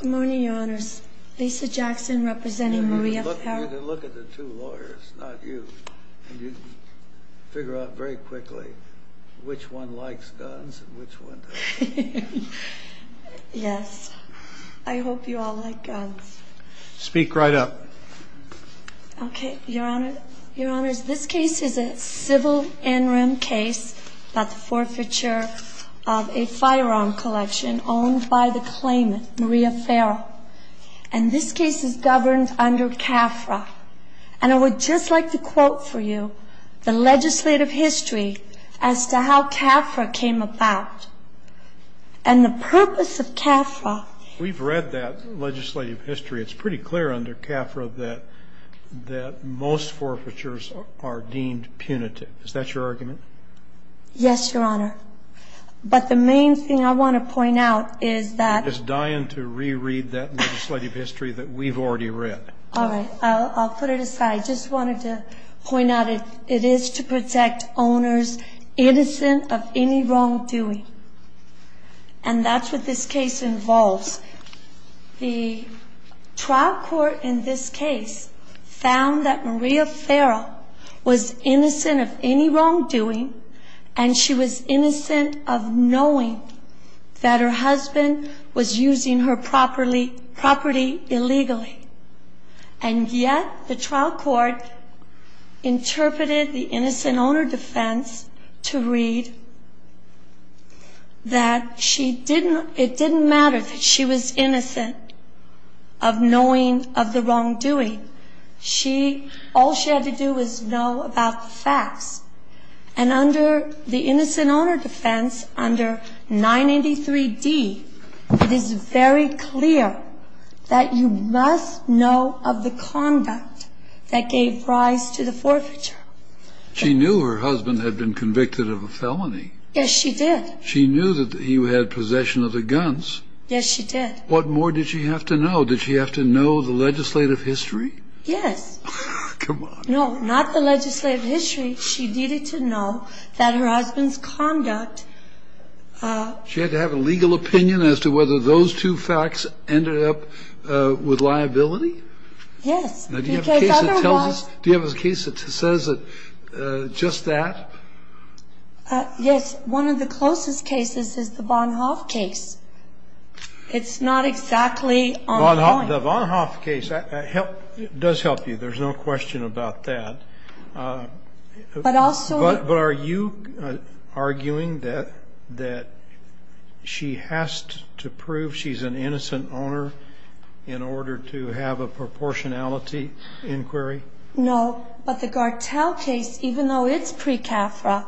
Good morning, your honors. Lisa Jackson representing Maria Ferro. Look at the two lawyers, not you. You can figure out very quickly which one likes guns and which one doesn't. Yes. I hope you all like guns. Speak right up. Okay, your honor. Your honors, this case is a civil in-room case about the forfeiture of a firearm collection owned by the claimant, Maria Ferro. And this case is governed under CAFRA. And I would just like to quote for you the legislative history as to how CAFRA came about and the purpose of CAFRA. We've read that legislative history. It's pretty clear under CAFRA that most forfeitures are deemed punitive. Is that your argument? Yes, your honor. But the main thing I want to point out is that we've already read. All right. I'll put it aside. I just wanted to point out it is to protect owners innocent of any wrongdoing. And that's what this case involves. The trial court in this case found that Maria Ferro was innocent of any wrongdoing and she was innocent of knowing that her husband was using her property illegally. And yet the trial court interpreted the innocent owner defense to read that it didn't matter if she was innocent of knowing of the wrongdoing. All she had to do was know about the facts. And under the innocent owner defense, under 983D, it is very clear that you must know of the conduct that gave rise to the forfeiture. She knew her husband had been convicted of a felony. Yes, she did. She knew that he had possession of the guns. Yes, she did. What more did she have to know? Did she have to know the legislative history? Yes. Come on. No, not the legislative history. She needed to know that her husband's conduct. She had to have a legal opinion as to whether those two facts ended up with liability? Yes. Do you have a case that says just that? Yes. One of the closest cases is the Bonhoeff case. It's not exactly on point. The Bonhoeff case does help you. There's no question about that. But are you arguing that she has to prove she's an innocent owner in order to have a proportionality inquiry? No. But the Gartell case, even though it's pre-CAFRA,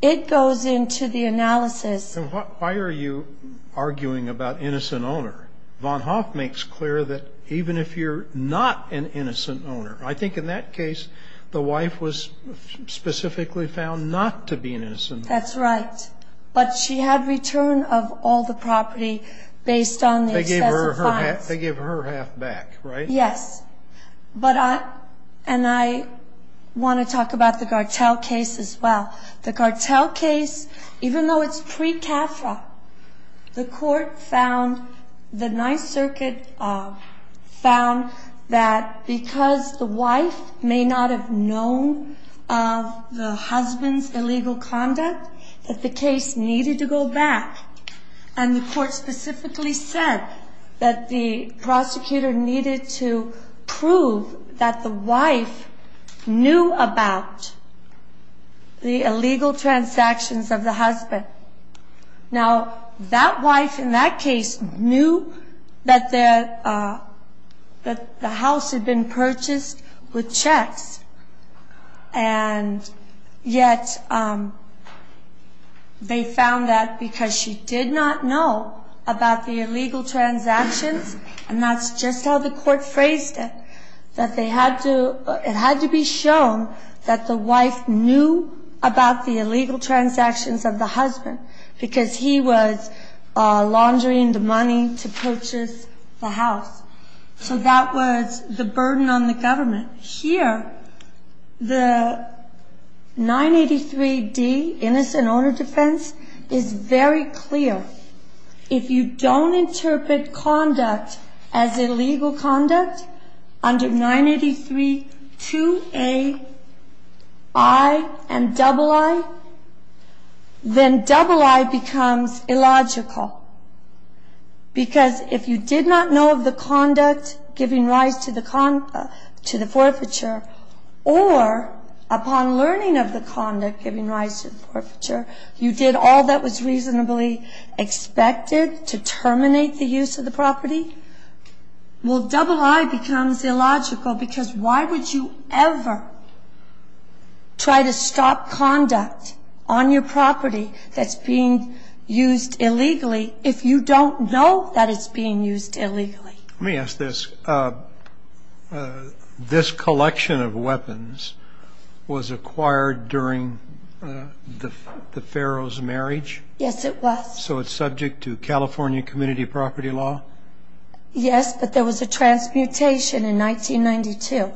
it goes into the analysis. Why are you arguing about innocent owner? Bonhoeff makes clear that even if you're not an innocent owner, I think in that case the wife was specifically found not to be an innocent owner. That's right. But she had return of all the property based on the excessive fines. They gave her half back, right? Yes. And I want to talk about the Gartell case as well. The Gartell case, even though it's pre-CAFRA, the court found, the Ninth Circuit found that because the wife may not have known of the husband's illegal conduct, that the case needed to go back. And the court specifically said that the prosecutor needed to prove that the wife knew about the illegal transactions of the husband. Now, that wife in that case knew that the house had been purchased with checks. And yet they found that because she did not know about the illegal transactions, and that's just how the court phrased it, that it had to be shown that the wife knew about the illegal transactions of the husband because he was laundering the money to purchase the house. So that was the burden on the government. And here, the 983-D, innocent owner defense, is very clear. If you don't interpret conduct as illegal conduct under 983-2A-I and double I, then double I becomes illogical. Because if you did not know of the conduct giving rise to the forfeiture or upon learning of the conduct giving rise to the forfeiture, you did all that was reasonably expected to terminate the use of the property, well, double I becomes illogical because why would you ever try to stop conduct on your property that's being used illegally if you don't know that it's being used illegally? Let me ask this. This collection of weapons was acquired during the Pharaoh's marriage? Yes, it was. So it's subject to California community property law? Yes, but there was a transmutation in 1992,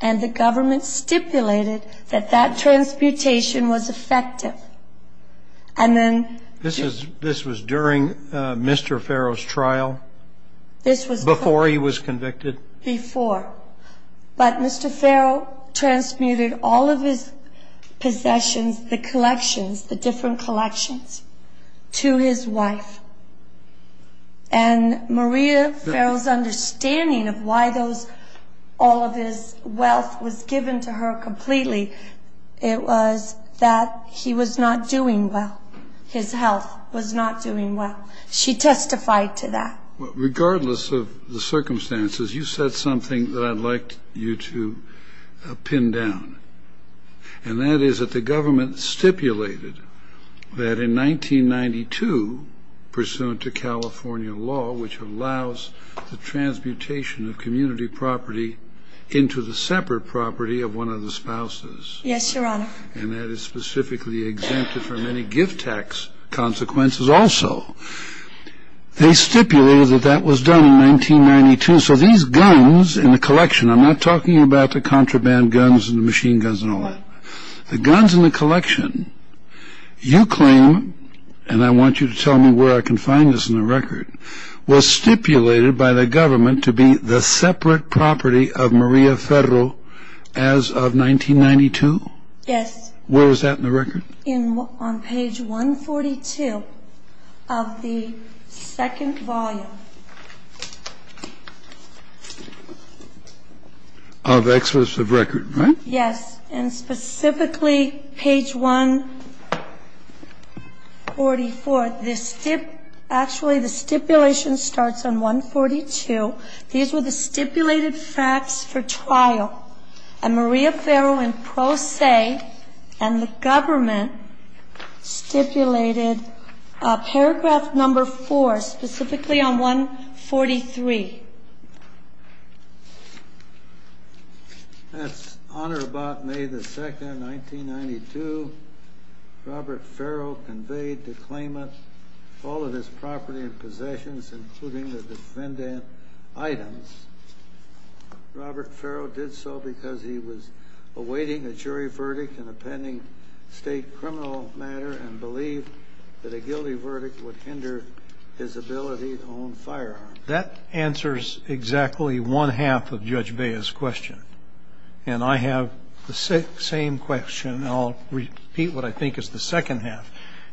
and the government stipulated that that transmutation was effective. This was during Mr. Pharaoh's trial? Before he was convicted? Before. But Mr. Pharaoh transmuted all of his possessions, the collections, the different collections, to his wife. And Maria Pharaoh's understanding of why all of his wealth was given to her completely, it was that he was not doing well. His health was not doing well. She testified to that. Regardless of the circumstances, you said something that I'd like you to pin down, and that is that the government stipulated that in 1992, pursuant to California law, which allows the transmutation of community property into the separate property of one of the spouses. Yes, Your Honor. And that is specifically exempted from any gift tax consequences also. So these guns in the collection, I'm not talking about the contraband guns and the machine guns and all that. The guns in the collection, you claim, and I want you to tell me where I can find this in the record, was stipulated by the government to be the separate property of Maria Pharaoh as of 1992? Yes. Where is that in the record? On page 142 of the second volume. Of Excellence of Record, right? Yes. And specifically page 144. Actually, the stipulation starts on 142. These were the stipulated facts for trial. And Maria Pharaoh in pro se and the government stipulated paragraph number four, specifically on 143. That's on or about May the 2nd, 1992. Robert Pharaoh conveyed to claimant all of his property and possessions, including the defendant items. Robert Pharaoh did so because he was awaiting a jury verdict in a pending state criminal matter and believed that a guilty verdict would hinder his ability to own firearms. That answers exactly one-half of Judge Baez's question. And I have the same question, and I'll repeat what I think is the second half.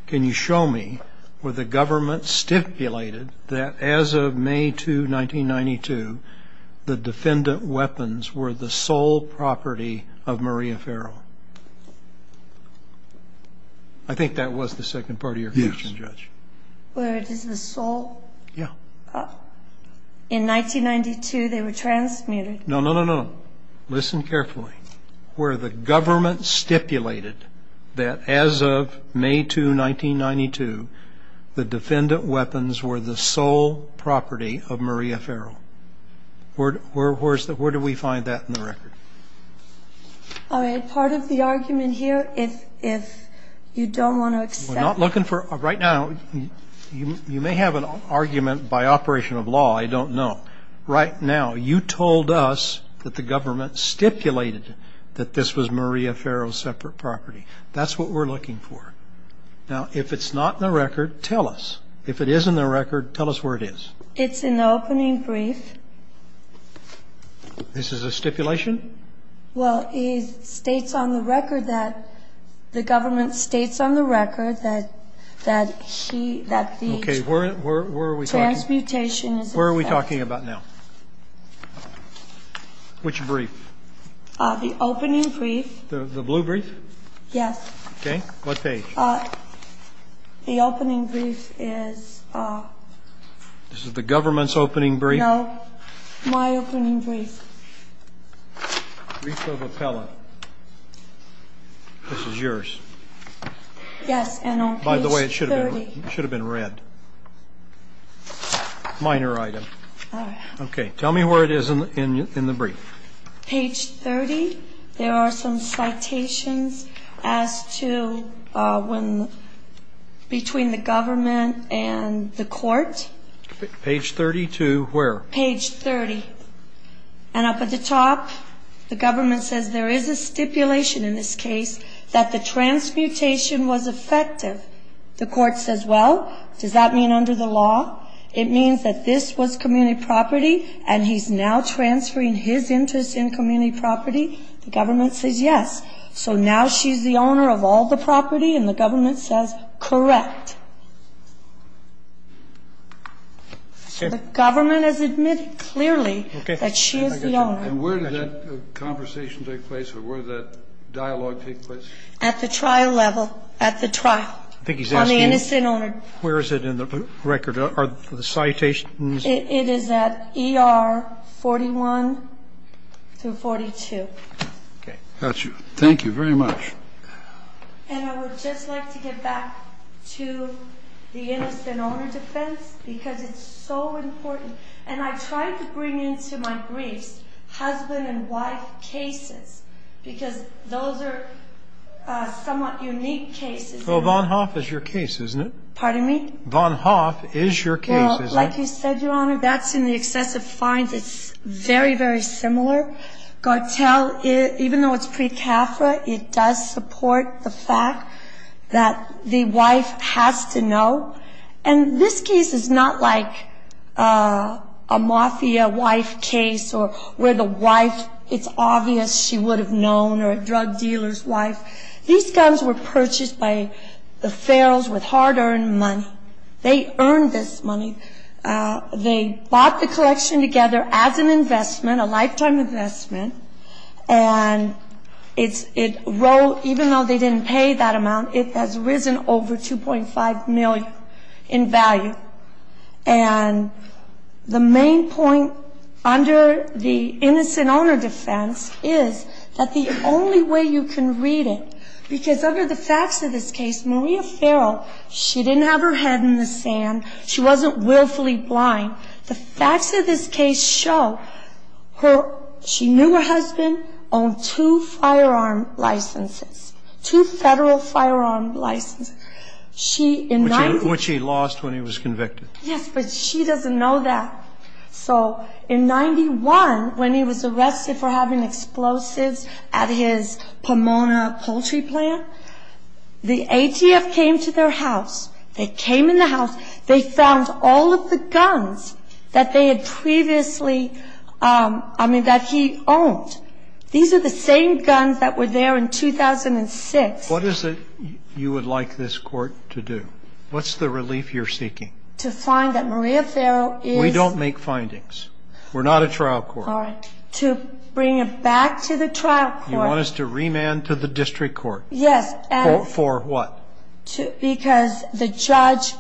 Can you show me where the government stipulated that as of May 2, 1992, the defendant weapons were the sole property of Maria Pharaoh? I think that was the second part of your question, Judge. Yes. Where it is the sole? Yeah. In 1992, they were transmuted. No, no, no, no. Where the government stipulated that as of May 2, 1992, the defendant weapons were the sole property of Maria Pharaoh. Where do we find that in the record? All right. Part of the argument here, if you don't want to accept. We're not looking for right now. You may have an argument by operation of law. I don't know. Right now, you told us that the government stipulated that this was Maria Pharaoh's separate property. That's what we're looking for. Now, if it's not in the record, tell us. If it is in the record, tell us where it is. It's in the opening brief. This is a stipulation? Well, it states on the record that the government states on the record that he, that the... Okay. Where are we talking... Transmutation is... Where are we talking about now? Which brief? The opening brief. The blue brief? Yes. Okay. What page? The opening brief is... This is the government's opening brief? No. My opening brief. Brief of appellate. This is yours. Yes, and on page 30. By the way, it should have been red. Minor item. All right. Okay. Tell me where it is in the brief. Page 30. There are some citations as to when, between the government and the court. Page 30 to where? Page 30. And up at the top, the government says there is a stipulation in this case that the transmutation was effective. The court says, well, does that mean under the law? It means that this was community property, and he's now transferring his interest in community property. The government says yes. So now she's the owner of all the property, and the government says, correct. The government has admitted clearly that she is the owner. And where did that conversation take place, or where did that dialogue take place? At the trial level. At the trial. On the innocent owner. Where is it in the record? Are the citations? It is at ER 41 through 42. Okay. Got you. Thank you very much. And I would just like to get back to the innocent owner defense, because it's so important. And I tried to bring into my briefs husband and wife cases, because those are somewhat unique cases. So Van Hoff is your case, isn't it? Pardon me? Van Hoff is your case, isn't it? Well, like you said, Your Honor, that's in the excessive fines. It's very, very similar. Gartell, even though it's pre-CAFRA, it does support the fact that the wife has to know. And this case is not like a mafia wife case or where the wife, it's obvious she would have known, or a drug dealer's wife. These guns were purchased by the Farrells with hard-earned money. They earned this money. They bought the collection together as an investment, a lifetime investment. And it rose, even though they didn't pay that amount, it has risen over $2.5 million in value. And the main point under the innocent owner defense is that the only way you can read it, because under the facts of this case, Maria Farrell, she didn't have her head in the sand. She wasn't willfully blind. The facts of this case show her, she knew her husband, owned two firearm licenses, two Federal firearm licenses. She, in 19- Which he lost when he was convicted. Yes, but she doesn't know that. So in 91, when he was arrested for having explosives at his Pomona poultry plant, the ATF came to their house. They came in the house. They found all of the guns that they had previously, I mean, that he owned. These are the same guns that were there in 2006. What is it you would like this court to do? What's the relief you're seeking? To find that Maria Farrell is- We don't make findings. We're not a trial court. To bring it back to the trial court. You want us to remand to the district court. Yes. For what? Because the judge-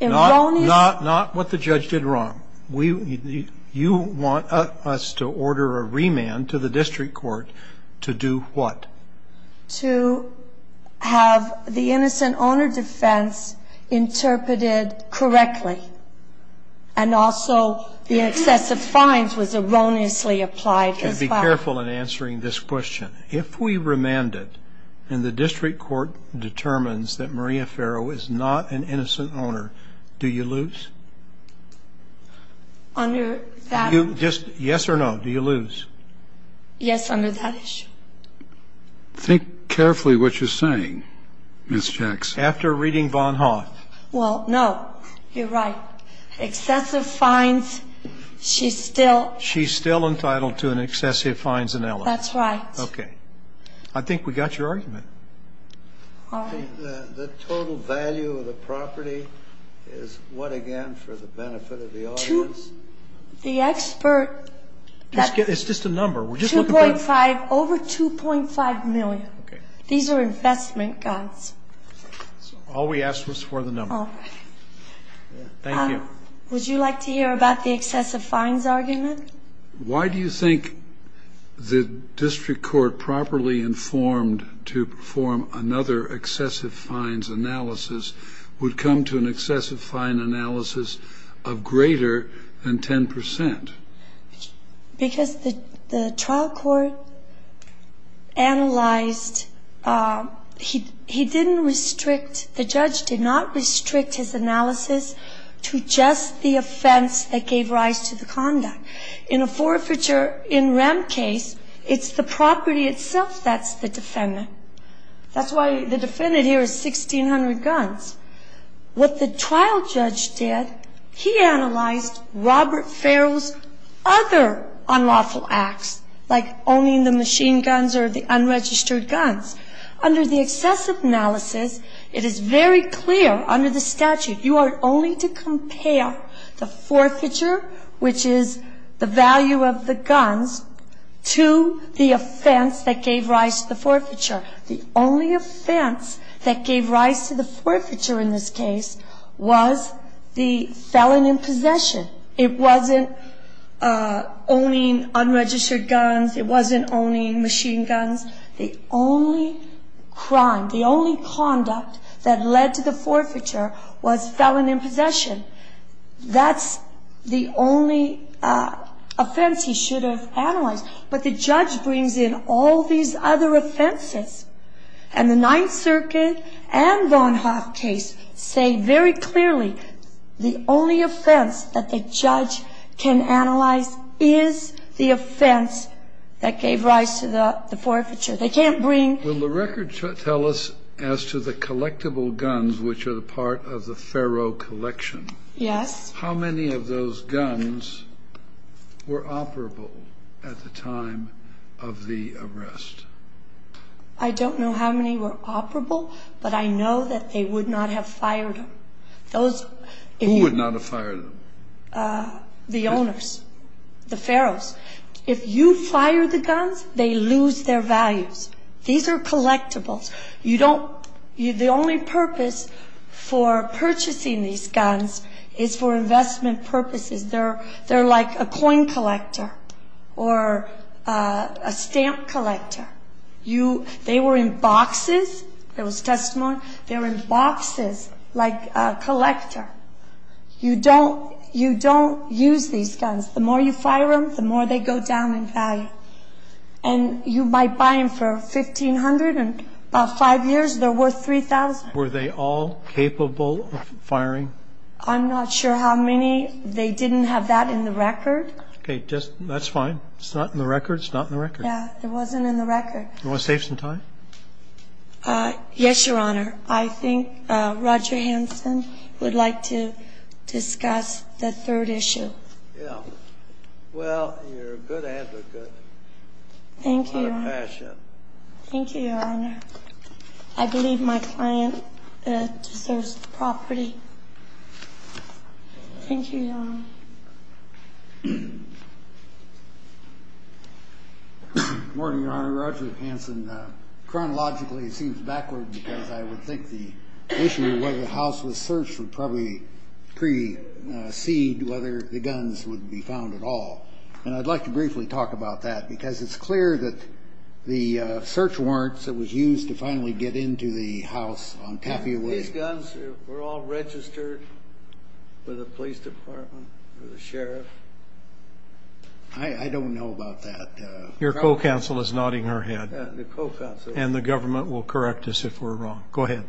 Not what the judge did wrong. You want us to order a remand to the district court to do what? To have the innocent owner defense interpreted correctly. And also the excessive fines was erroneously applied as well. You have to be careful in answering this question. If we remand it and the district court determines that Maria Farrell is not an innocent owner, do you lose? Under that- Yes or no, do you lose? Yes, under that issue. Think carefully what you're saying, Ms. Jackson. After reading Von Hauth. Well, no. You're right. Excessive fines, she's still- She's still entitled to an excessive fines ineligible. That's right. Okay. I think we got your argument. All right. The total value of the property is what, again, for the benefit of the audience? The expert- It's just a number. Over 2.5 million. Okay. These are investment guns. All we asked was for the number. All right. Thank you. Would you like to hear about the excessive fines argument? Why do you think the district court properly informed to perform another excessive fines analysis would come to an excessive fine analysis of greater than 10 percent? Because the trial court analyzed- He didn't restrict- The judge did not restrict his analysis to just the offense that gave rise to the conduct. In a forfeiture in rent case, it's the property itself that's the defendant. That's why the defendant here is 1,600 guns. What the trial judge did, he analyzed Robert Farrell's other unlawful acts, like owning the machine guns or the unregistered guns. Under the excessive analysis, it is very clear under the statute you are only to compare the forfeiture, which is the value of the guns, to the offense that gave rise to the forfeiture. The only offense that gave rise to the forfeiture in this case was the felon in possession. It wasn't owning unregistered guns. It wasn't owning machine guns. The only crime, the only conduct that led to the forfeiture was felon in possession. That's the only offense he should have analyzed. But the judge brings in all these other offenses, and the Ninth Circuit and Bonhoeff case say very clearly the only offense that the judge can analyze is the offense that gave rise to the forfeiture. They can't bring- Will the record tell us as to the collectible guns, which are the part of the Farrell collection- Yes. How many of those guns were operable at the time of the arrest? I don't know how many were operable, but I know that they would not have fired them. Those- Who would not have fired them? The owners, the Farrells. If you fire the guns, they lose their values. These are collectibles. The only purpose for purchasing these guns is for investment purposes. They're like a coin collector or a stamp collector. They were in boxes. There was testimony. They were in boxes like a collector. You don't use these guns. And you might buy them for $1,500, and about five years, they're worth $3,000. Were they all capable of firing? I'm not sure how many. They didn't have that in the record. Okay. That's fine. It's not in the record. It's not in the record. Yeah. It wasn't in the record. Do you want to save some time? Yes, Your Honor. I think Roger Hansen would like to discuss the third issue. Yeah. Well, you're a good advocate. Thank you. What a passion. Thank you, Your Honor. I believe my client deserves the property. Thank you, Your Honor. Good morning, Your Honor. Roger Hansen. Chronologically, it seems backward because I would think the issue of whether the house was searched would probably precede whether the guns would be found at all. And I'd like to briefly talk about that because it's clear that the search warrants that was used to finally get into the house on Caffey Way. Were these guns all registered with the police department or the sheriff? I don't know about that. Your co-counsel is nodding her head. The co-counsel. And the government will correct us if we're wrong. Go ahead.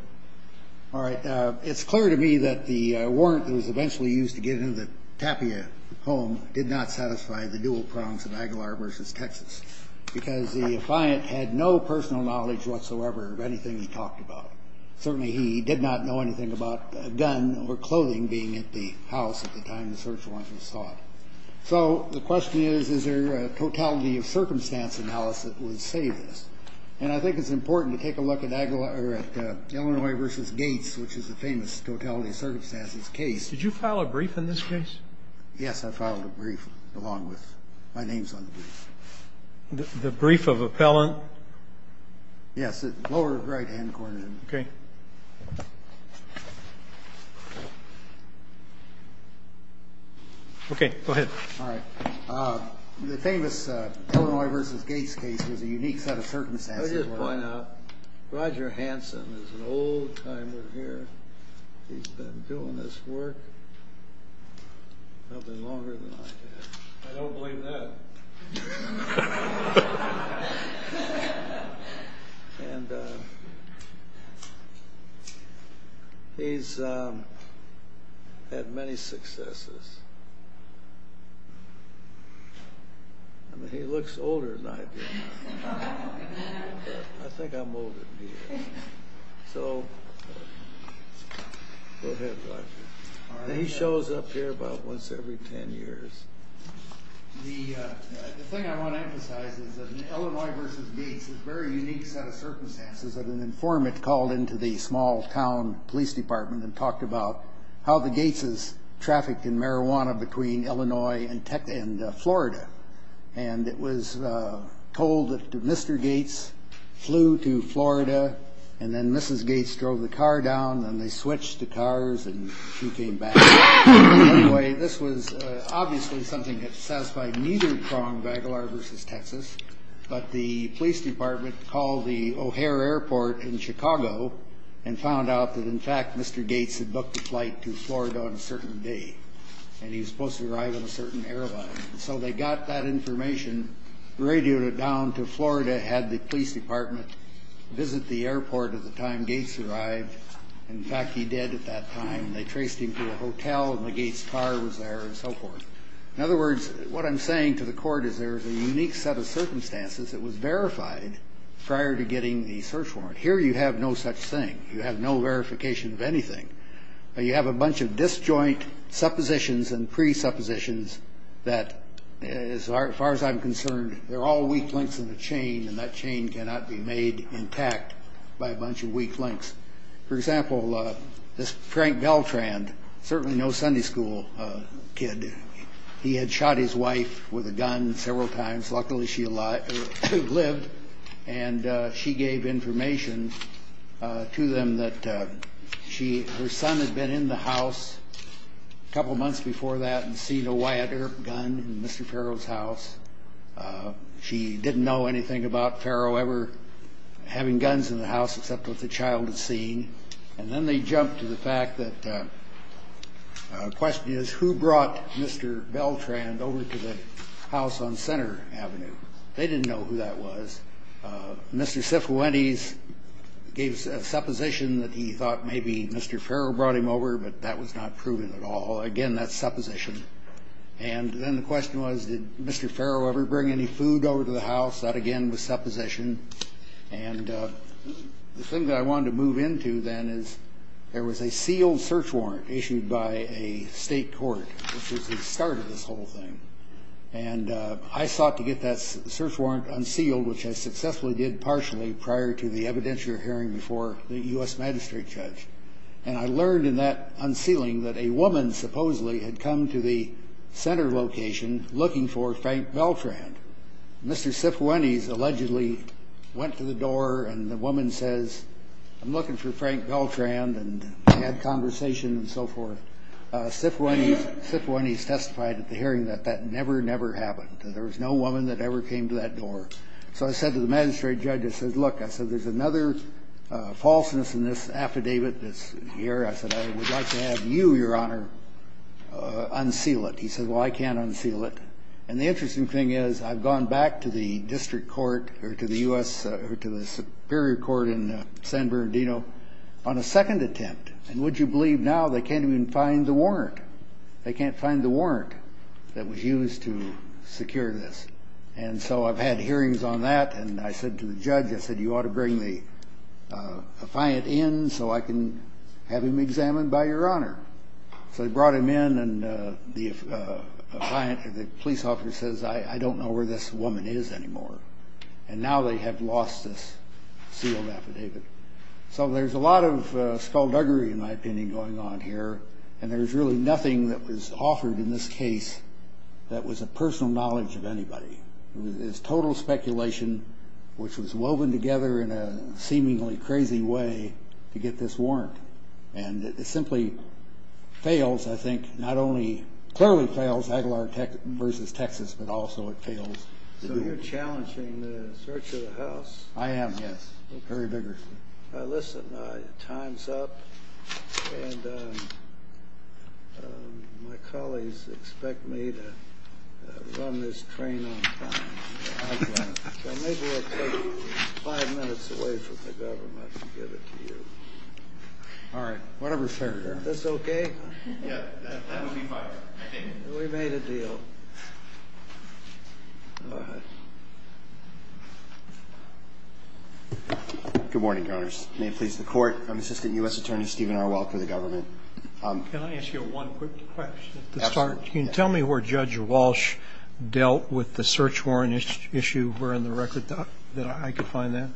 All right. It's clear to me that the warrant that was eventually used to get into the Tapia home did not satisfy the dual prongs of Aguilar versus Texas because the client had no personal knowledge whatsoever of anything he talked about. Certainly, he did not know anything about a gun or clothing being at the house at the time the search warrant was sought. So the question is, is there a totality of circumstance analysis that would save this? And I think it's important to take a look at Illinois versus Gates, which is a famous totality of circumstances case. Did you file a brief in this case? Yes, I filed a brief along with my name's on the brief. The brief of appellant? Yes, lower right-hand corner. Okay. Okay, go ahead. All right. The famous Illinois versus Gates case was a unique set of circumstances. Let me just point out, Roger Hansen is an old-timer here. He's been doing this work nothing longer than I have. I don't believe that. And he's had many successes. I mean, he looks older than I do. I think I'm older than he is. So go ahead, Roger. He shows up here about once every ten years. The thing I want to emphasize is that Illinois versus Gates is a very unique set of circumstances. An informant called into the small-town police department and talked about how the Gateses trafficked in marijuana between Illinois and Florida. And it was told that Mr. Gates flew to Florida, and then Mrs. Gates drove the car down, and they switched the cars, and she came back. Anyway, this was obviously something that satisfied neither prong, Vagalar versus Texas, but the police department called the O'Hare Airport in Chicago and found out that, in fact, Mr. Gates had booked a flight to Florida on a certain day, and he was supposed to arrive on a certain airline. So they got that information, radioed it down to Florida, had the police department visit the airport at the time Gates arrived. In fact, he did at that time. They traced him to a hotel, and the Gates car was there and so forth. In other words, what I'm saying to the court is there is a unique set of circumstances that was verified prior to getting the search warrant. Here you have no such thing. You have no verification of anything. You have a bunch of disjoint suppositions and presuppositions that, as far as I'm concerned, they're all weak links in a chain, and that chain cannot be made intact by a bunch of weak links. For example, this Frank Beltrand, certainly no Sunday school kid, he had shot his wife with a gun several times. Luckily, she lived, and she gave information to them that her son had been in the house a couple months before that and seen a Wyatt Earp gun in Mr. Farrow's house. She didn't know anything about Farrow ever having guns in the house except what the child had seen. And then they jumped to the fact that the question is who brought Mr. Beltrand over to the house on Center Avenue. They didn't know who that was. Mr. Sifuentes gave a supposition that he thought maybe Mr. Farrow brought him over, but that was not proven at all. Again, that's supposition. And then the question was, did Mr. Farrow ever bring any food over to the house? That, again, was supposition. And the thing that I wanted to move into then is there was a sealed search warrant issued by a state court, which was the start of this whole thing. And I sought to get that search warrant unsealed, which I successfully did partially prior to the evidentiary hearing before the U.S. magistrate judge. And I learned in that unsealing that a woman supposedly had come to the center location looking for Frank Beltrand. Mr. Sifuentes allegedly went to the door, and the woman says, I'm looking for Frank Beltrand. And they had a conversation and so forth. Sifuentes testified at the hearing that that never, never happened. There was no woman that ever came to that door. So I said to the magistrate judge, I said, look, I said, there's another falseness in this affidavit that's here. I said, I would like to have you, Your Honor, unseal it. He said, well, I can't unseal it. And the interesting thing is I've gone back to the district court or to the U.S. or to the superior court in San Bernardino on a second attempt. And would you believe now they can't even find the warrant? They can't find the warrant that was used to secure this. And so I've had hearings on that. And I said to the judge, I said, you ought to bring the affiant in so I can have him examined by Your Honor. So they brought him in, and the police officer says, I don't know where this woman is anymore. And now they have lost this sealed affidavit. So there's a lot of skullduggery, in my opinion, going on here. And there's really nothing that was offered in this case that was a personal knowledge of anybody. It was total speculation, which was woven together in a seemingly crazy way to get this warrant. And it simply fails, I think, not only clearly fails Aguilar v. Texas, but also it fails. So you're challenging the search of the house? I am, yes, very vigorously. Listen, time's up. And my colleagues expect me to run this train on time. So maybe it's five minutes away from the government to give it to you. All right. Whatever's fair, Your Honor. Is this okay? Yeah, that would be fine, I think. We made a deal. All right. Good morning, Your Honors. May it please the Court, I'm Assistant U.S. Attorney Stephen R. Walsh for the government. Can I ask you one quick question? Absolutely. Can you tell me where Judge Walsh dealt with the search warrant issue? Were in the record that I could find that?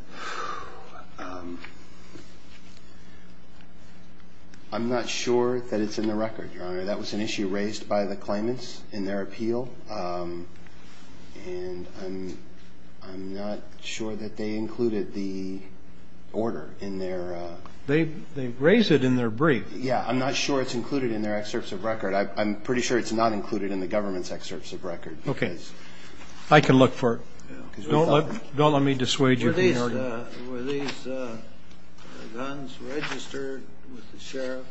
I'm not sure that it's in the record, Your Honor. That was an issue raised by the claimants in their appeal. And I'm not sure that they included the order in their ---- They raised it in their brief. Yeah, I'm not sure it's included in their excerpts of record. I'm pretty sure it's not included in the government's excerpts of record. Okay. I can look for it. Don't let me dissuade you from the order. Were these guns registered with the sheriff?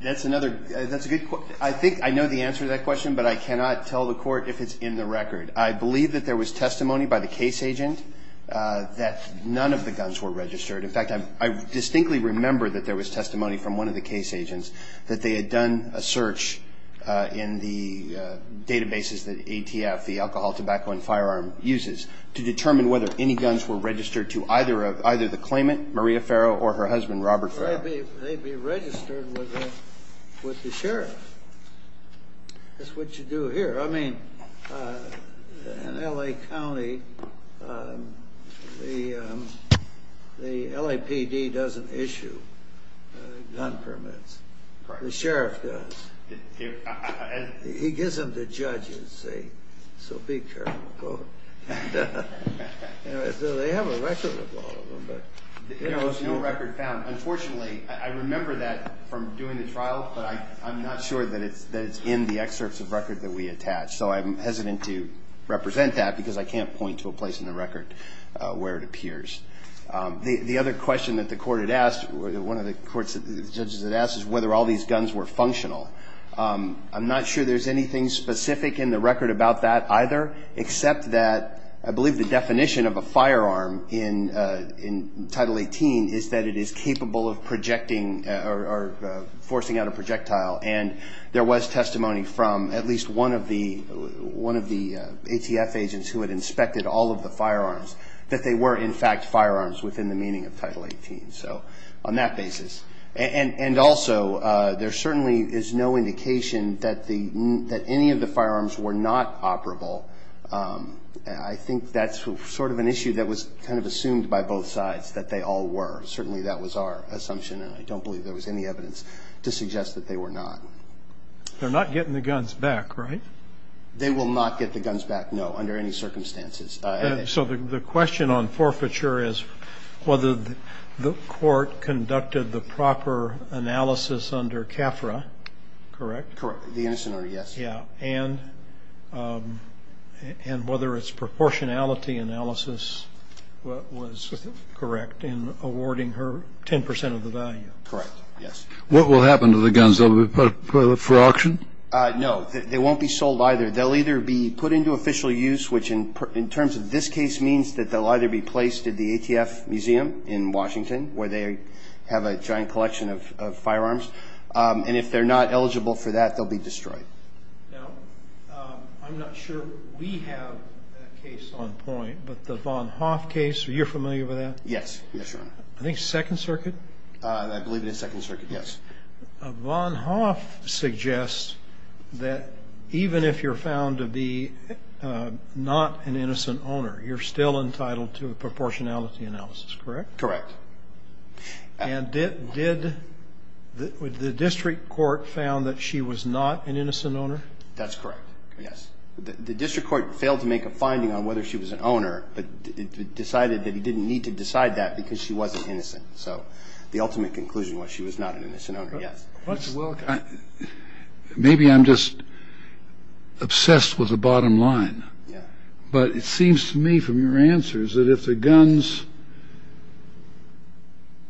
That's another good question. I think I know the answer to that question, but I cannot tell the Court if it's in the record. I believe that there was testimony by the case agent that none of the guns were registered. In fact, I distinctly remember that there was testimony from one of the case agents that they had done a search in the databases that ATF, the Alcohol, Tobacco, and Firearm, uses to determine whether any guns were registered to either the claimant, Maria Farrow, or her husband, Robert Farrow. They'd be registered with the sheriff. That's what you do here. I mean, in L.A. County, the LAPD doesn't issue gun permits. The sheriff does. He gives them to judges. So be careful. They have a record of all of them. There was no record found. Unfortunately, I remember that from doing the trial, but I'm not sure that it's in the excerpts of record that we attached. So I'm hesitant to represent that because I can't point to a place in the record where it appears. The other question that the court had asked, one of the judges had asked, is whether all these guns were functional. I'm not sure there's anything specific in the record about that either, except that I believe the definition of a firearm in Title 18 is that it is capable of projecting or forcing out a projectile. And there was testimony from at least one of the ATF agents who had inspected all of the firearms that they were, in fact, firearms within the meaning of Title 18. So on that basis. And also, there certainly is no indication that any of the firearms were not operable. I think that's sort of an issue that was kind of assumed by both sides, that they all were. Certainly that was our assumption, and I don't believe there was any evidence to suggest that they were not. They're not getting the guns back, right? They will not get the guns back, no, under any circumstances. So the question on forfeiture is whether the court conducted the proper analysis under CAFRA, correct? Correct. The innocent order, yes. Yeah. And whether its proportionality analysis was correct in awarding her 10 percent of the value. Correct, yes. What will happen to the guns? Will they be put up for auction? No. They won't be sold either. They'll either be put into official use, which in terms of this case, means that they'll either be placed at the ATF Museum in Washington, where they have a giant collection of firearms. And if they're not eligible for that, they'll be destroyed. Now, I'm not sure we have a case on point, but the Von Hoff case, are you familiar with that? Yes, Your Honor. I think Second Circuit. I believe it is Second Circuit, yes. Von Hoff suggests that even if you're found to be not an innocent owner, you're still entitled to a proportionality analysis, correct? Correct. And did the district court found that she was not an innocent owner? That's correct, yes. The district court failed to make a finding on whether she was an owner, but decided that it didn't need to decide that because she wasn't innocent. So the ultimate conclusion was she was not an innocent owner, yes. Mr. Wilk, maybe I'm just obsessed with the bottom line. Yeah. But it seems to me from your answers that if the guns,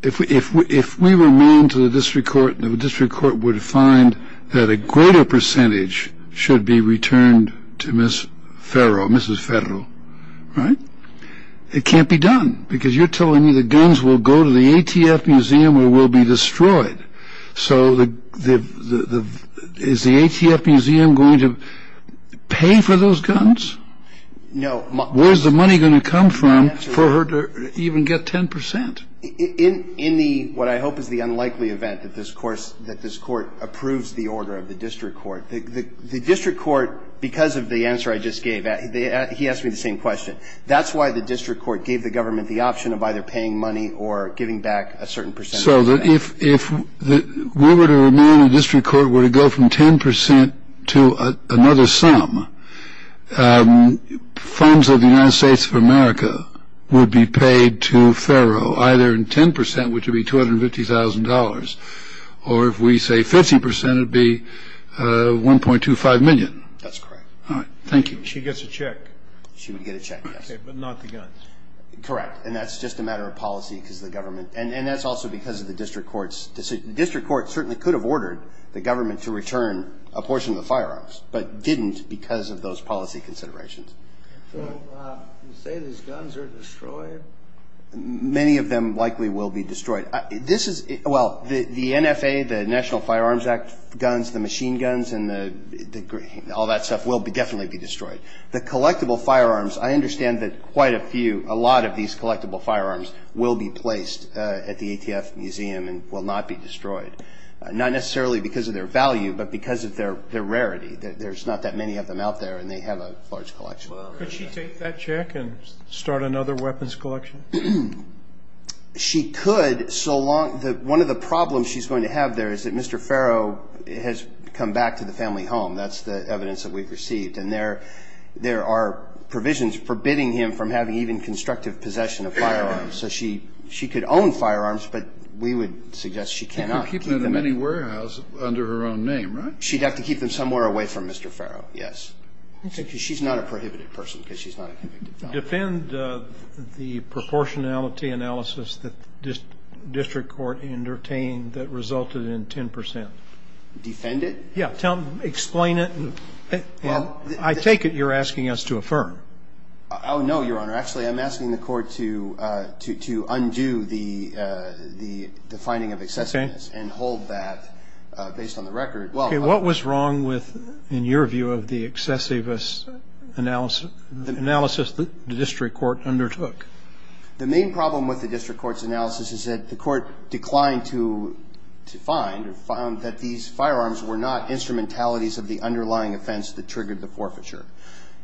if we remain to the district court, the district court would find that a greater percentage should be returned to Mrs. Ferro, right? It can't be done because you're telling me the guns will go to the ATF museum or will be destroyed. So is the ATF museum going to pay for those guns? No. Where's the money going to come from for her to even get 10 percent? In the, what I hope is the unlikely event that this Court approves the order of the district court, the district court, because of the answer I just gave, he asked me the same question. That's why the district court gave the government the option of either paying money or giving back a certain percentage. So that if we were to remain in the district court, were to go from 10 percent to another sum, funds of the United States of America would be paid to Ferro either in 10 percent, which would be $250,000, or if we say 50 percent, it would be $1.25 million. That's correct. All right. Thank you. She gets a check. She would get a check, yes. Okay, but not the guns. Correct, and that's just a matter of policy because the government, and that's also because of the district court's decision. The district court certainly could have ordered the government to return a portion of the firearms, but didn't because of those policy considerations. So you say these guns are destroyed? Many of them likely will be destroyed. This is, well, the NFA, the National Firearms Act guns, the machine guns, and all that stuff will definitely be destroyed. The collectible firearms, I understand that quite a few, a lot of these collectible firearms, will be placed at the ATF Museum and will not be destroyed, not necessarily because of their value, but because of their rarity. There's not that many of them out there, and they have a large collection. Could she take that check and start another weapons collection? She could so long that one of the problems she's going to have there is that Mr. Ferro has come back to the family home, that's the evidence that we've received, and there are provisions forbidding him from having even constructive possession of firearms. So she could own firearms, but we would suggest she cannot keep them. She could keep them in any warehouse under her own name, right? She'd have to keep them somewhere away from Mr. Ferro, yes. She's not a prohibited person because she's not a convicted felon. Defend the proportionality analysis that district court entertained that resulted in 10%. Defend it? Yeah. Explain it. I take it you're asking us to affirm. Oh, no, Your Honor. Actually, I'm asking the court to undo the finding of excessiveness and hold that based on the record. Okay. What was wrong with, in your view, of the excessivist analysis that the district court undertook? The main problem with the district court's analysis is that the court declined to find or found that these firearms were not instrumentalities of the underlying offense that triggered the forfeiture.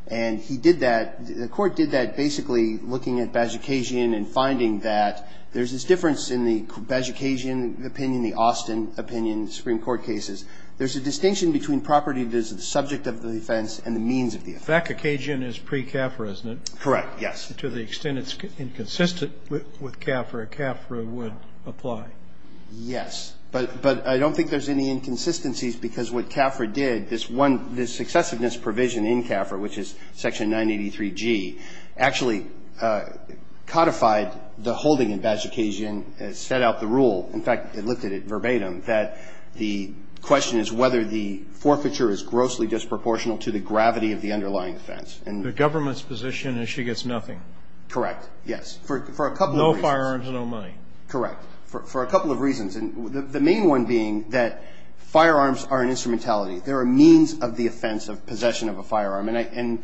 And he did that, the court did that basically looking at Bajikasian and finding that there's this difference in the Bajikasian opinion, the Austin opinion, Supreme Court cases. There's a distinction between property that is the subject of the offense and the means of the offense. Bajikasian is pre-CAFRA, isn't it? Correct, yes. To the extent it's inconsistent with CAFRA, CAFRA would apply. Yes, but I don't think there's any inconsistencies because what CAFRA did, this successiveness provision in CAFRA, which is Section 983G, actually codified the holding in Bajikasian and set out the rule. In fact, it lifted it verbatim that the question is whether the forfeiture is grossly disproportional to the gravity of the underlying offense. The government's position is she gets nothing. Correct, yes. For a couple of reasons. No firearms, no money. Correct. For a couple of reasons. And the main one being that firearms are an instrumentality. They're a means of the offense of possession of a firearm. And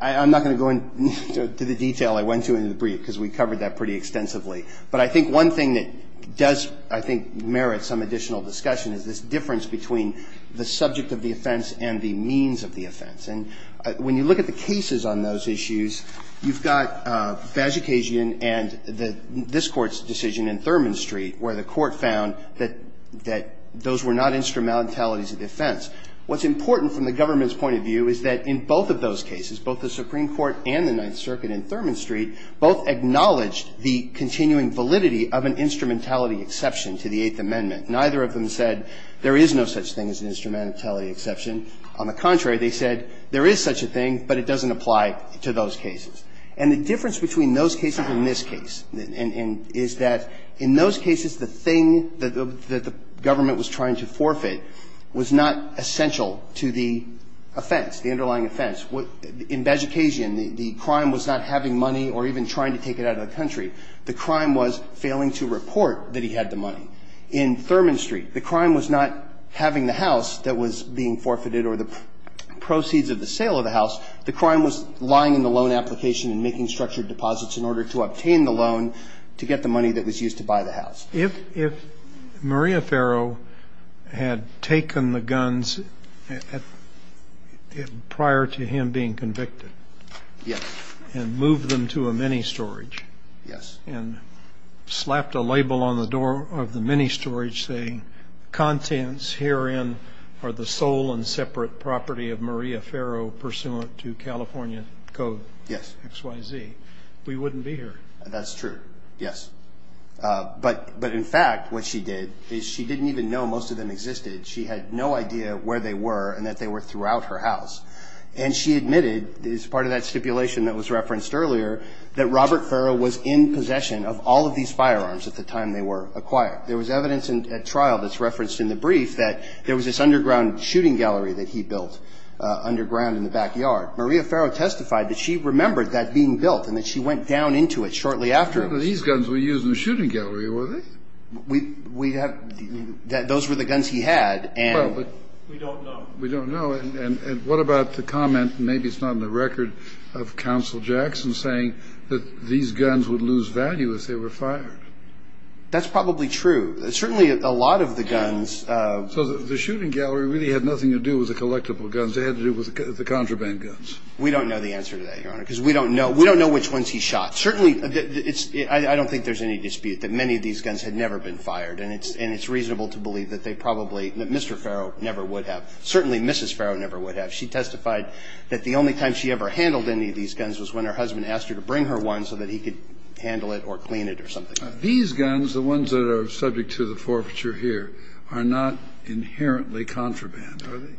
I'm not going to go into the detail I went to in the brief because we covered that pretty extensively. But I think one thing that does, I think, merit some additional discussion is this difference between the subject of the offense and the means of the offense. And when you look at the cases on those issues, you've got Bajikasian and this Court's decision in Thurman Street where the Court found that those were not instrumentalities of the offense. What's important from the government's point of view is that in both of those cases, both the Supreme Court and the Ninth Circuit in Thurman Street both acknowledged the continuing validity of an instrumentality exception to the Eighth Amendment. Neither of them said there is no such thing as an instrumentality exception. On the contrary, they said there is such a thing, but it doesn't apply to those cases. And the difference between those cases and this case is that in those cases, the thing that the government was trying to forfeit was not essential to the offense, the underlying offense. In Bajikasian, the crime was not having money or even trying to take it out of the country. The crime was failing to report that he had the money. In Thurman Street, the crime was not having the house that was being forfeited or the proceeds of the sale of the house. The crime was lying in the loan application and making structured deposits in order to obtain the loan to get the money that was used to buy the house. If Maria Farrow had taken the guns prior to him being convicted and moved them to a mini-storage and slapped a label on the door of the mini-storage saying, contents herein are the sole and separate property of Maria Farrow pursuant to California Code XYZ, we wouldn't be here. That's true, yes. But in fact, what she did is she didn't even know most of them existed. She had no idea where they were and that they were throughout her house. And she admitted, as part of that stipulation that was referenced earlier, that Robert Farrow was in possession of all of these firearms at the time they were acquired. There was evidence at trial that's referenced in the brief that there was this underground shooting gallery that he built underground in the backyard. Maria Farrow testified that she remembered that being built and that she went down into it shortly after. These guns were used in the shooting gallery, were they? We have ñ those were the guns he had. Well, but we don't know. We don't know. And what about the comment, maybe it's not in the record, of Counsel Jackson saying that these guns would lose value if they were fired? That's probably true. Certainly, a lot of the guns ñ So the shooting gallery really had nothing to do with the collectible guns. It had to do with the contraband guns. We don't know the answer to that, Your Honor, because we don't know. We don't know which ones he shot. Certainly, it's ñ I don't think there's any dispute that many of these guns had never been fired. And it's reasonable to believe that they probably ñ that Mr. Farrow never would have. Certainly, Mrs. Farrow never would have. She testified that the only time she ever handled any of these guns was when her These guns, the ones that are subject to the forfeiture here, are not inherently contraband. Are they?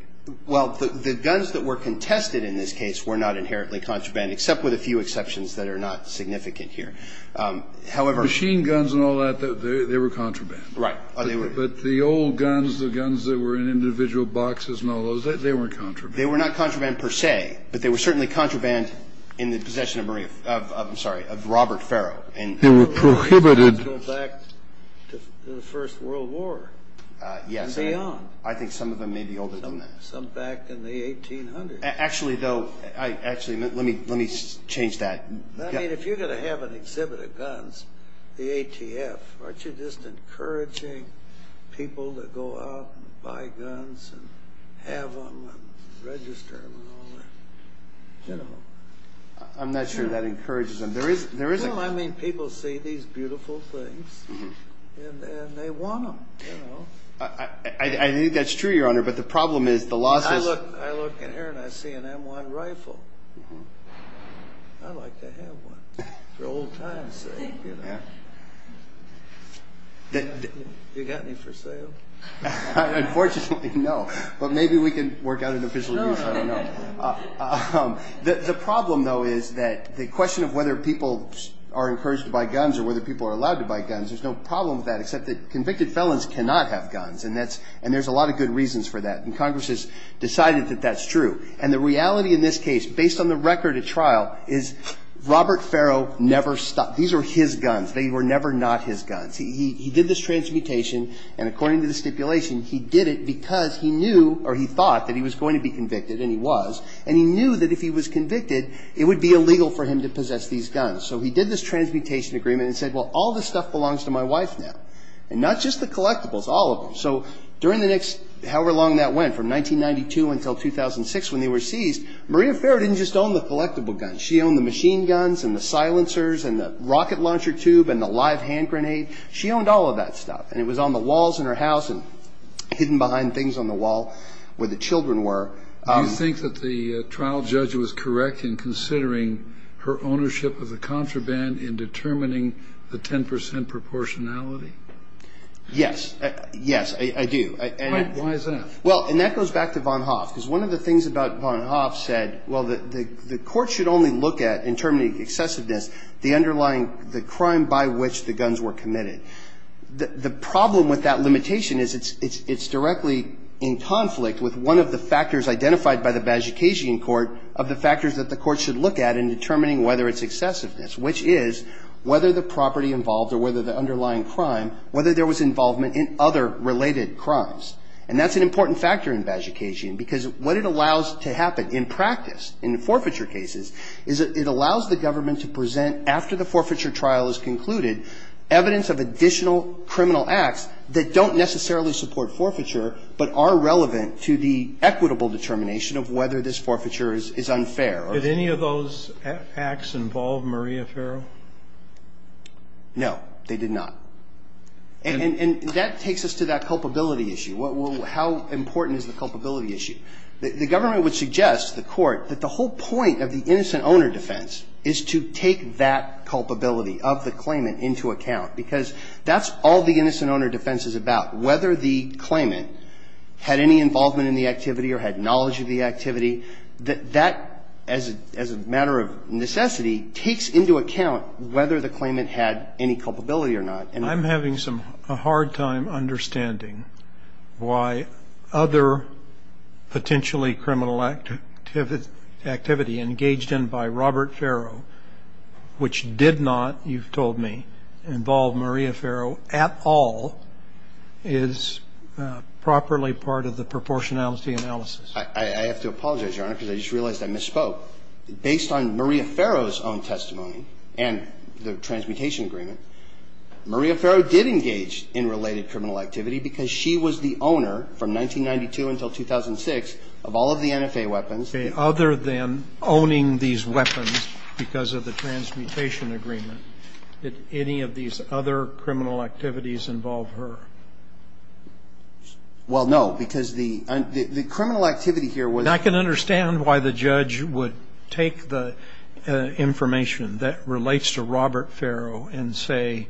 Well, the guns that were contested in this case were not inherently contraband, except with a few exceptions that are not significant here. However ñ Machine guns and all that, they were contraband. Right. But the old guns, the guns that were in individual boxes and all those, they weren't contraband. They were not contraband per se, but they were certainly contraband in the possession of Marie ñ I'm sorry, of Robert Farrow. They were prohibited ñ Some of these guns go back to the First World War and beyond. Yes. I think some of them may be older than that. Some back in the 1800s. Actually, though ñ actually, let me change that. I mean, if you're going to have an exhibit of guns, the ATF, aren't you just encouraging people to go out and buy guns and have them and register them and all that? General. I'm not sure that encourages them. Well, I mean, people see these beautiful things and they want them, you know. I think that's true, Your Honor, but the problem is the losses ñ I look in here and I see an M1 rifle. I'd like to have one for old times' sake, you know. You got any for sale? Unfortunately, no. But maybe we can work out an official use. I don't know. The problem, though, is that the question of whether people are encouraged to buy guns or whether people are allowed to buy guns, there's no problem with that except that convicted felons cannot have guns, and there's a lot of good reasons for that, and Congress has decided that that's true. And the reality in this case, based on the record at trial, is Robert Farrow never stopped. These were his guns. They were never not his guns. He did this transmutation, and according to the stipulation, he did it because he knew or he thought that he was going to be convicted, and he was, and he knew that if he was convicted, it would be illegal for him to possess these guns. So he did this transmutation agreement and said, well, all this stuff belongs to my wife now, and not just the collectibles, all of them. So during the next however long that went, from 1992 until 2006 when they were seized, Maria Farrow didn't just own the collectible guns. She owned the machine guns and the silencers and the rocket launcher tube and the live hand grenade. She owned all of that stuff, and it was on the walls in her house and hidden behind things on the wall. Where the children were. Do you think that the trial judge was correct in considering her ownership of the contraband in determining the 10 percent proportionality? Yes. Yes, I do. Why is that? Well, and that goes back to Von Hoff, because one of the things about Von Hoff said, well, the court should only look at, in term of the excessiveness, the underlying, the crime by which the guns were committed. The problem with that limitation is it's directly in conflict with one of the factors identified by the Bajikasian court of the factors that the court should look at in determining whether it's excessiveness, which is whether the property involved or whether the underlying crime, whether there was involvement in other related crimes. And that's an important factor in Bajikasian, because what it allows to happen in practice in the forfeiture cases is it allows the government to present after the forfeiture trial is concluded evidence of additional criminal acts that don't necessarily support forfeiture, but are relevant to the equitable determination of whether this forfeiture is unfair. Did any of those acts involve Maria Farrow? No, they did not. And that takes us to that culpability issue. How important is the culpability issue? The government would suggest to the court that the whole point of the innocent owner defense is to take that culpability of the claimant into account, because that's all the innocent owner defense is about, whether the claimant had any involvement in the activity or had knowledge of the activity. That, as a matter of necessity, takes into account whether the claimant had any culpability or not. I'm having a hard time understanding why other potentially criminal activity engaged in by Robert Farrow, which did not, you've told me, involve Maria Farrow at all, is properly part of the proportionality analysis. I have to apologize, Your Honor, because I just realized I misspoke. Based on Maria Farrow's own testimony and the transmutation agreement, Maria Farrow did engage in related criminal activity because she was the owner from 1992 until 2006 of all of the NFA weapons. Okay. Other than owning these weapons because of the transmutation agreement, did any of these other criminal activities involve her? Well, no, because the criminal activity here was ñ I can understand why the judge would take the information that relates to Robert Farrow and say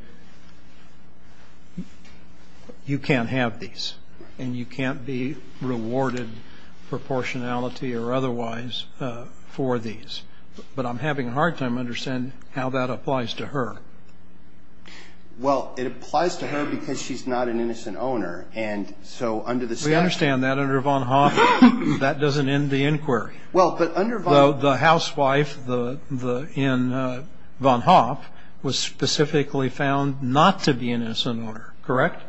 you can't have these and you can't be rewarded proportionality or otherwise for these. But I'm having a hard time understanding how that applies to her. Well, it applies to her because she's not an innocent owner. And so under the statute ñ We understand that. Under Von Hoff, that doesn't end the inquiry. Well, but under ñ Though the housewife in Von Hoff was specifically found not to be an innocent owner, correct?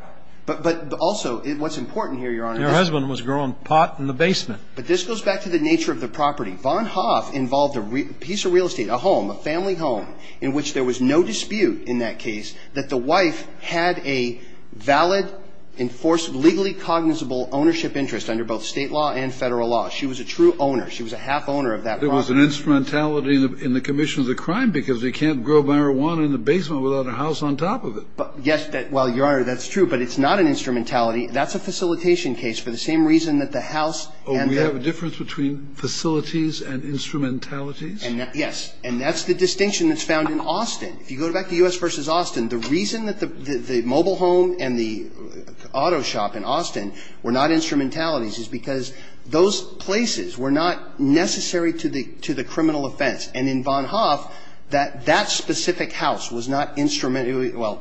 But also what's important here, Your Honor ñ Her husband was growing pot in the basement. But this goes back to the nature of the property. Von Hoff involved a piece of real estate, a home, a family home, in which there was no dispute in that case that the wife had a valid, enforced, legally cognizable ownership interest under both State law and Federal law. She was a true owner. She was a half-owner of that property. There was an instrumentality in the commission of the crime because they can't grow marijuana in the basement without a house on top of it. Yes, well, Your Honor, that's true. But it's not an instrumentality. That's a facilitation case for the same reason that the house and the ñ Oh, we have a difference between facilities and instrumentalities? Yes. And that's the distinction that's found in Austin. If you go back to U.S. v. Austin, the reason that the mobile home and the auto shop in Austin were not instrumentalities is because those places were not necessary to the ñ to the criminal offense. And in Von Hoff, that that specific house was not ñ well,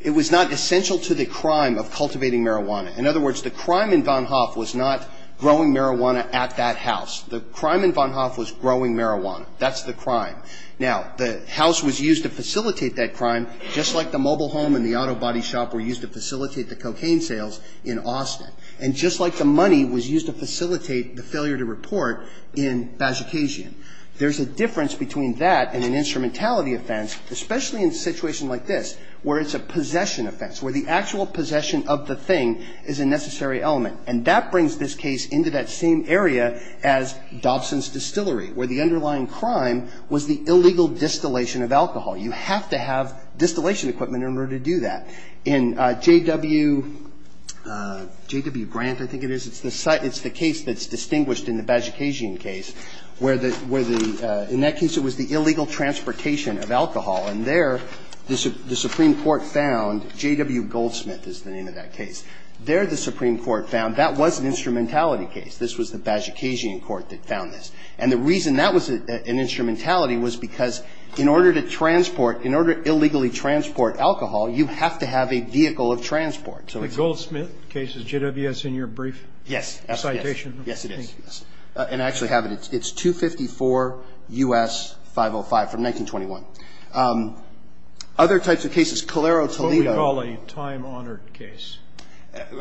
it was not essential to the crime of cultivating marijuana. In other words, the crime in Von Hoff was not growing marijuana at that house. The crime in Von Hoff was growing marijuana. That's the crime. Now, the house was used to facilitate that crime, just like the mobile home and the auto body shop were used to facilitate the cocaine sales in Austin, and just like the money was used to facilitate the failure to report in Bazhukasian. There's a difference between that and an instrumentality offense, especially in a situation like this, where it's a possession offense, where the actual possession of the thing is a necessary element. And that brings this case into that same area as Dobson's Distillery, where the underlying crime was the illegal distillation of alcohol. You have to have distillation equipment in order to do that. In J.W. ñ J.W. Grant, I think it is. It's the site ñ it's the case that's distinguished in the Bazhukasian case, where the ñ where the ñ in that case, it was the illegal transportation of alcohol. And there, the Supreme Court found ñ J.W. Goldsmith is the name of that case. There, the Supreme Court found that was an instrumentality case. This was the Bazhukasian court that found this. And the reason that was an instrumentality was because in order to transport ñ in order to illegally transport alcohol, you have to have a vehicle of transport. So it's ñ The Goldsmith case is J.W.S. in your brief? Yes. Citation? Yes, it is. And I actually have it. It's 254 U.S. 505 from 1921. Other types of cases, Calero, Toledo. What would you call a time-honored case?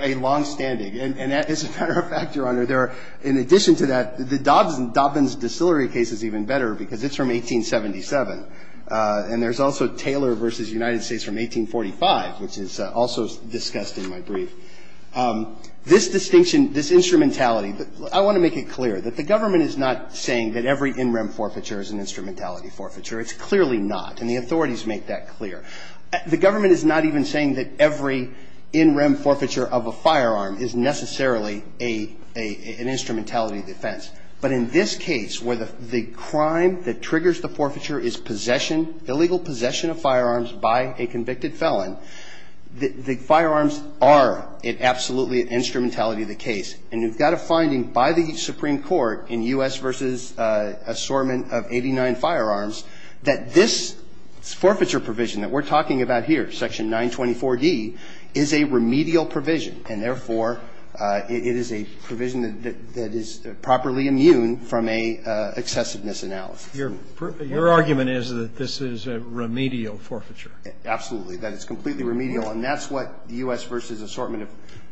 A longstanding. And as a matter of fact, Your Honor, there are ñ in addition to that, the Dobbins ñ Dobbins distillery case is even better because it's from 1877. And there's also Taylor v. United States from 1845, which is also discussed in my brief. This distinction, this instrumentality ñ I want to make it clear that the government is not saying that every in-rem forfeiture is an instrumentality forfeiture. It's clearly not. And the authorities make that clear. The government is not even saying that every in-rem forfeiture of a firearm is necessarily an instrumentality defense. But in this case, where the crime that triggers the forfeiture is possession, illegal possession of firearms by a convicted felon, the firearms are absolutely an instrumentality of the case. And you've got a finding by the Supreme Court in U.S. v. Assortment of 89 Firearms that this forfeiture provision that we're talking about here, Section 924d, is a remedial provision, and therefore, it is a provision that is properly immune from an excessiveness analysis. Your argument is that this is a remedial forfeiture. Absolutely. That it's completely remedial. And that's what U.S. v. Assortment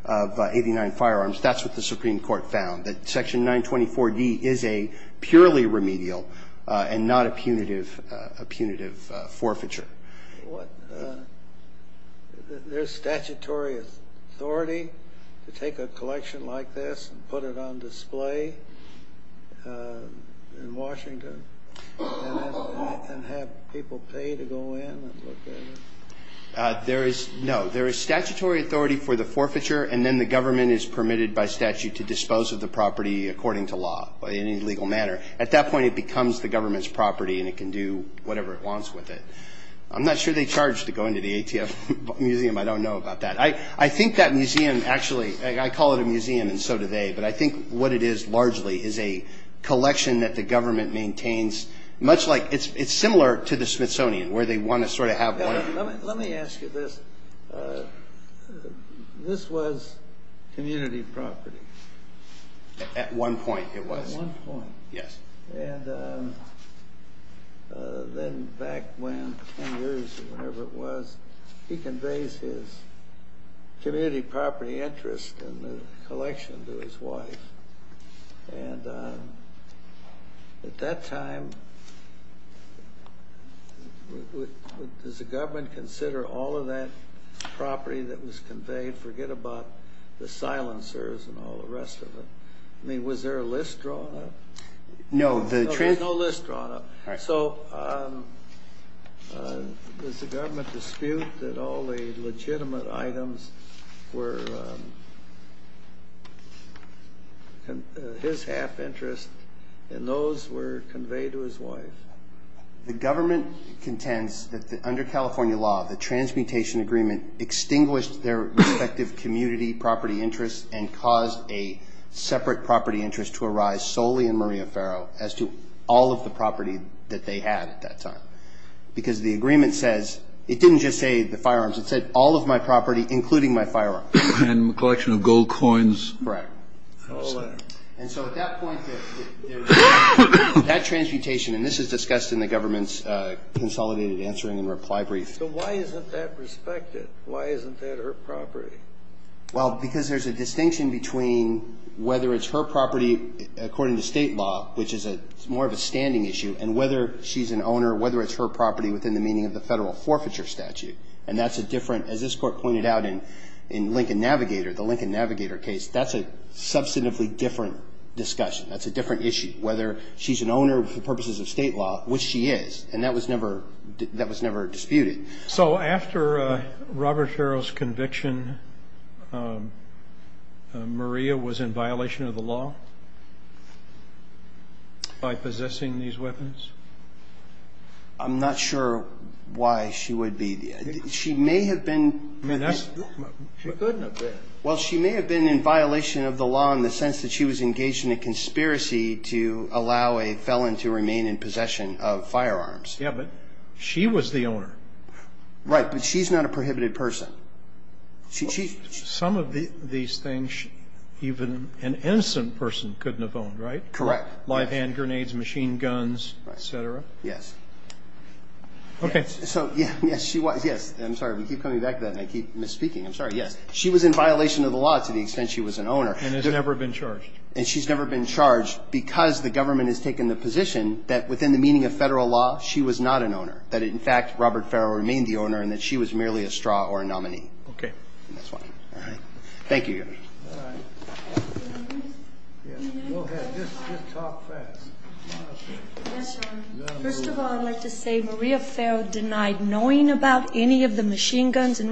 of 89 Firearms. That's what the Supreme Court found. That Section 924d is a purely remedial and not a punitive forfeiture. There's statutory authority to take a collection like this and put it on display in Washington and have people pay to go in and look at it? No. There is statutory authority for the forfeiture, and then the government is permitted by statute to dispose of the property according to law in any legal manner. At that point, it becomes the government's property, and it can do whatever it wants with it. I'm not sure they charge to go into the ATF Museum. I don't know about that. I think that museum actually, I call it a museum and so do they, but I think what it is largely is a collection that the government maintains much like it's similar to the Smithsonian where they want to sort of have one. Let me ask you this. This was community property? At one point, it was. At one point. Yes. And then back when, 10 years or whatever it was, he conveys his community property interest and the collection to his wife. And at that time, does the government consider all of that property that was conveyed? Forget about the silencers and all the rest of it. I mean, was there a list drawn up? No. There was no list drawn up. Right. So does the government dispute that all the legitimate items were his half interest and those were conveyed to his wife? The government contends that under California law, the transmutation agreement extinguished their respective community property interests and caused a separate property interest to Because the agreement says, it didn't just say the firearms. It said all of my property, including my firearms. And a collection of gold coins. Correct. And so at that point, that transmutation, and this is discussed in the government's consolidated answering and reply brief. So why isn't that respected? Why isn't that her property? Well, because there's a distinction between whether it's her property according to state law, which is more of a standing issue, and whether she's an owner, whether it's her property within the meaning of the federal forfeiture statute. And that's a different, as this court pointed out in Lincoln Navigator, the Lincoln Navigator case, that's a substantively different discussion. That's a different issue, whether she's an owner for purposes of state law, which she is. And that was never disputed. So after Robert Farrell's conviction, Maria was in violation of the law by possessing these weapons? I'm not sure why she would be. She may have been. She couldn't have been. Well, she may have been in violation of the law in the sense that she was engaged in a conspiracy to allow a felon to remain in possession of firearms. Yeah, but she was the owner. Right. But she's not a prohibited person. Some of these things even an innocent person couldn't have owned, right? Correct. Live hand grenades, machine guns, et cetera. Yes. Okay. So, yes, she was. Yes. I'm sorry. We keep coming back to that, and I keep misspeaking. I'm sorry. Yes. She was in violation of the law to the extent she was an owner. And has never been charged. And she's never been charged because the government has taken the position that within the meaning of federal law, she was not an owner. That, in fact, Robert Farrell remained the owner and that she was merely a straw or a nominee. Okay. And that's why. All right. Thank you. All right. Go ahead. Just talk fast. Yes, sir. First of all, I'd like to say Maria Farrell denied knowing about any of the machine guns and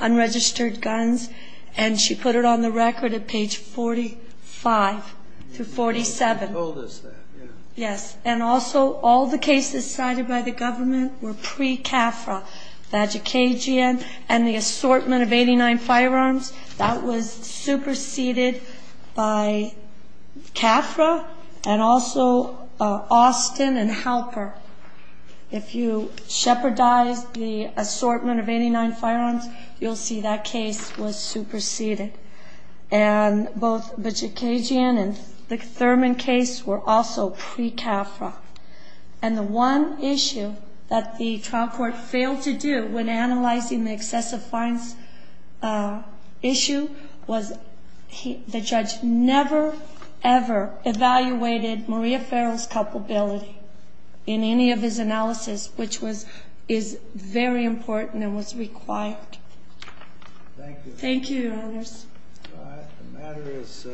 unregistered guns, and she put it on the record at page 45 through 47. She told us that, yeah. Yes. And also, all the cases cited by the government were pre-CAFRA. Vagikagian and the assortment of 89 firearms, that was superseded by CAFRA and also Austin and Halper. If you shepherdize the assortment of 89 firearms, you'll see that case was superseded. And both Vagikagian and the Thurman case were also pre-CAFRA. And the one issue that the trial court failed to do when analyzing the excessive fines issue was the judge never, ever evaluated Maria Farrell's culpability in any of his analysis, which is very important and was required. Thank you. Thank you, Your Honors. All right. The matter is submitted.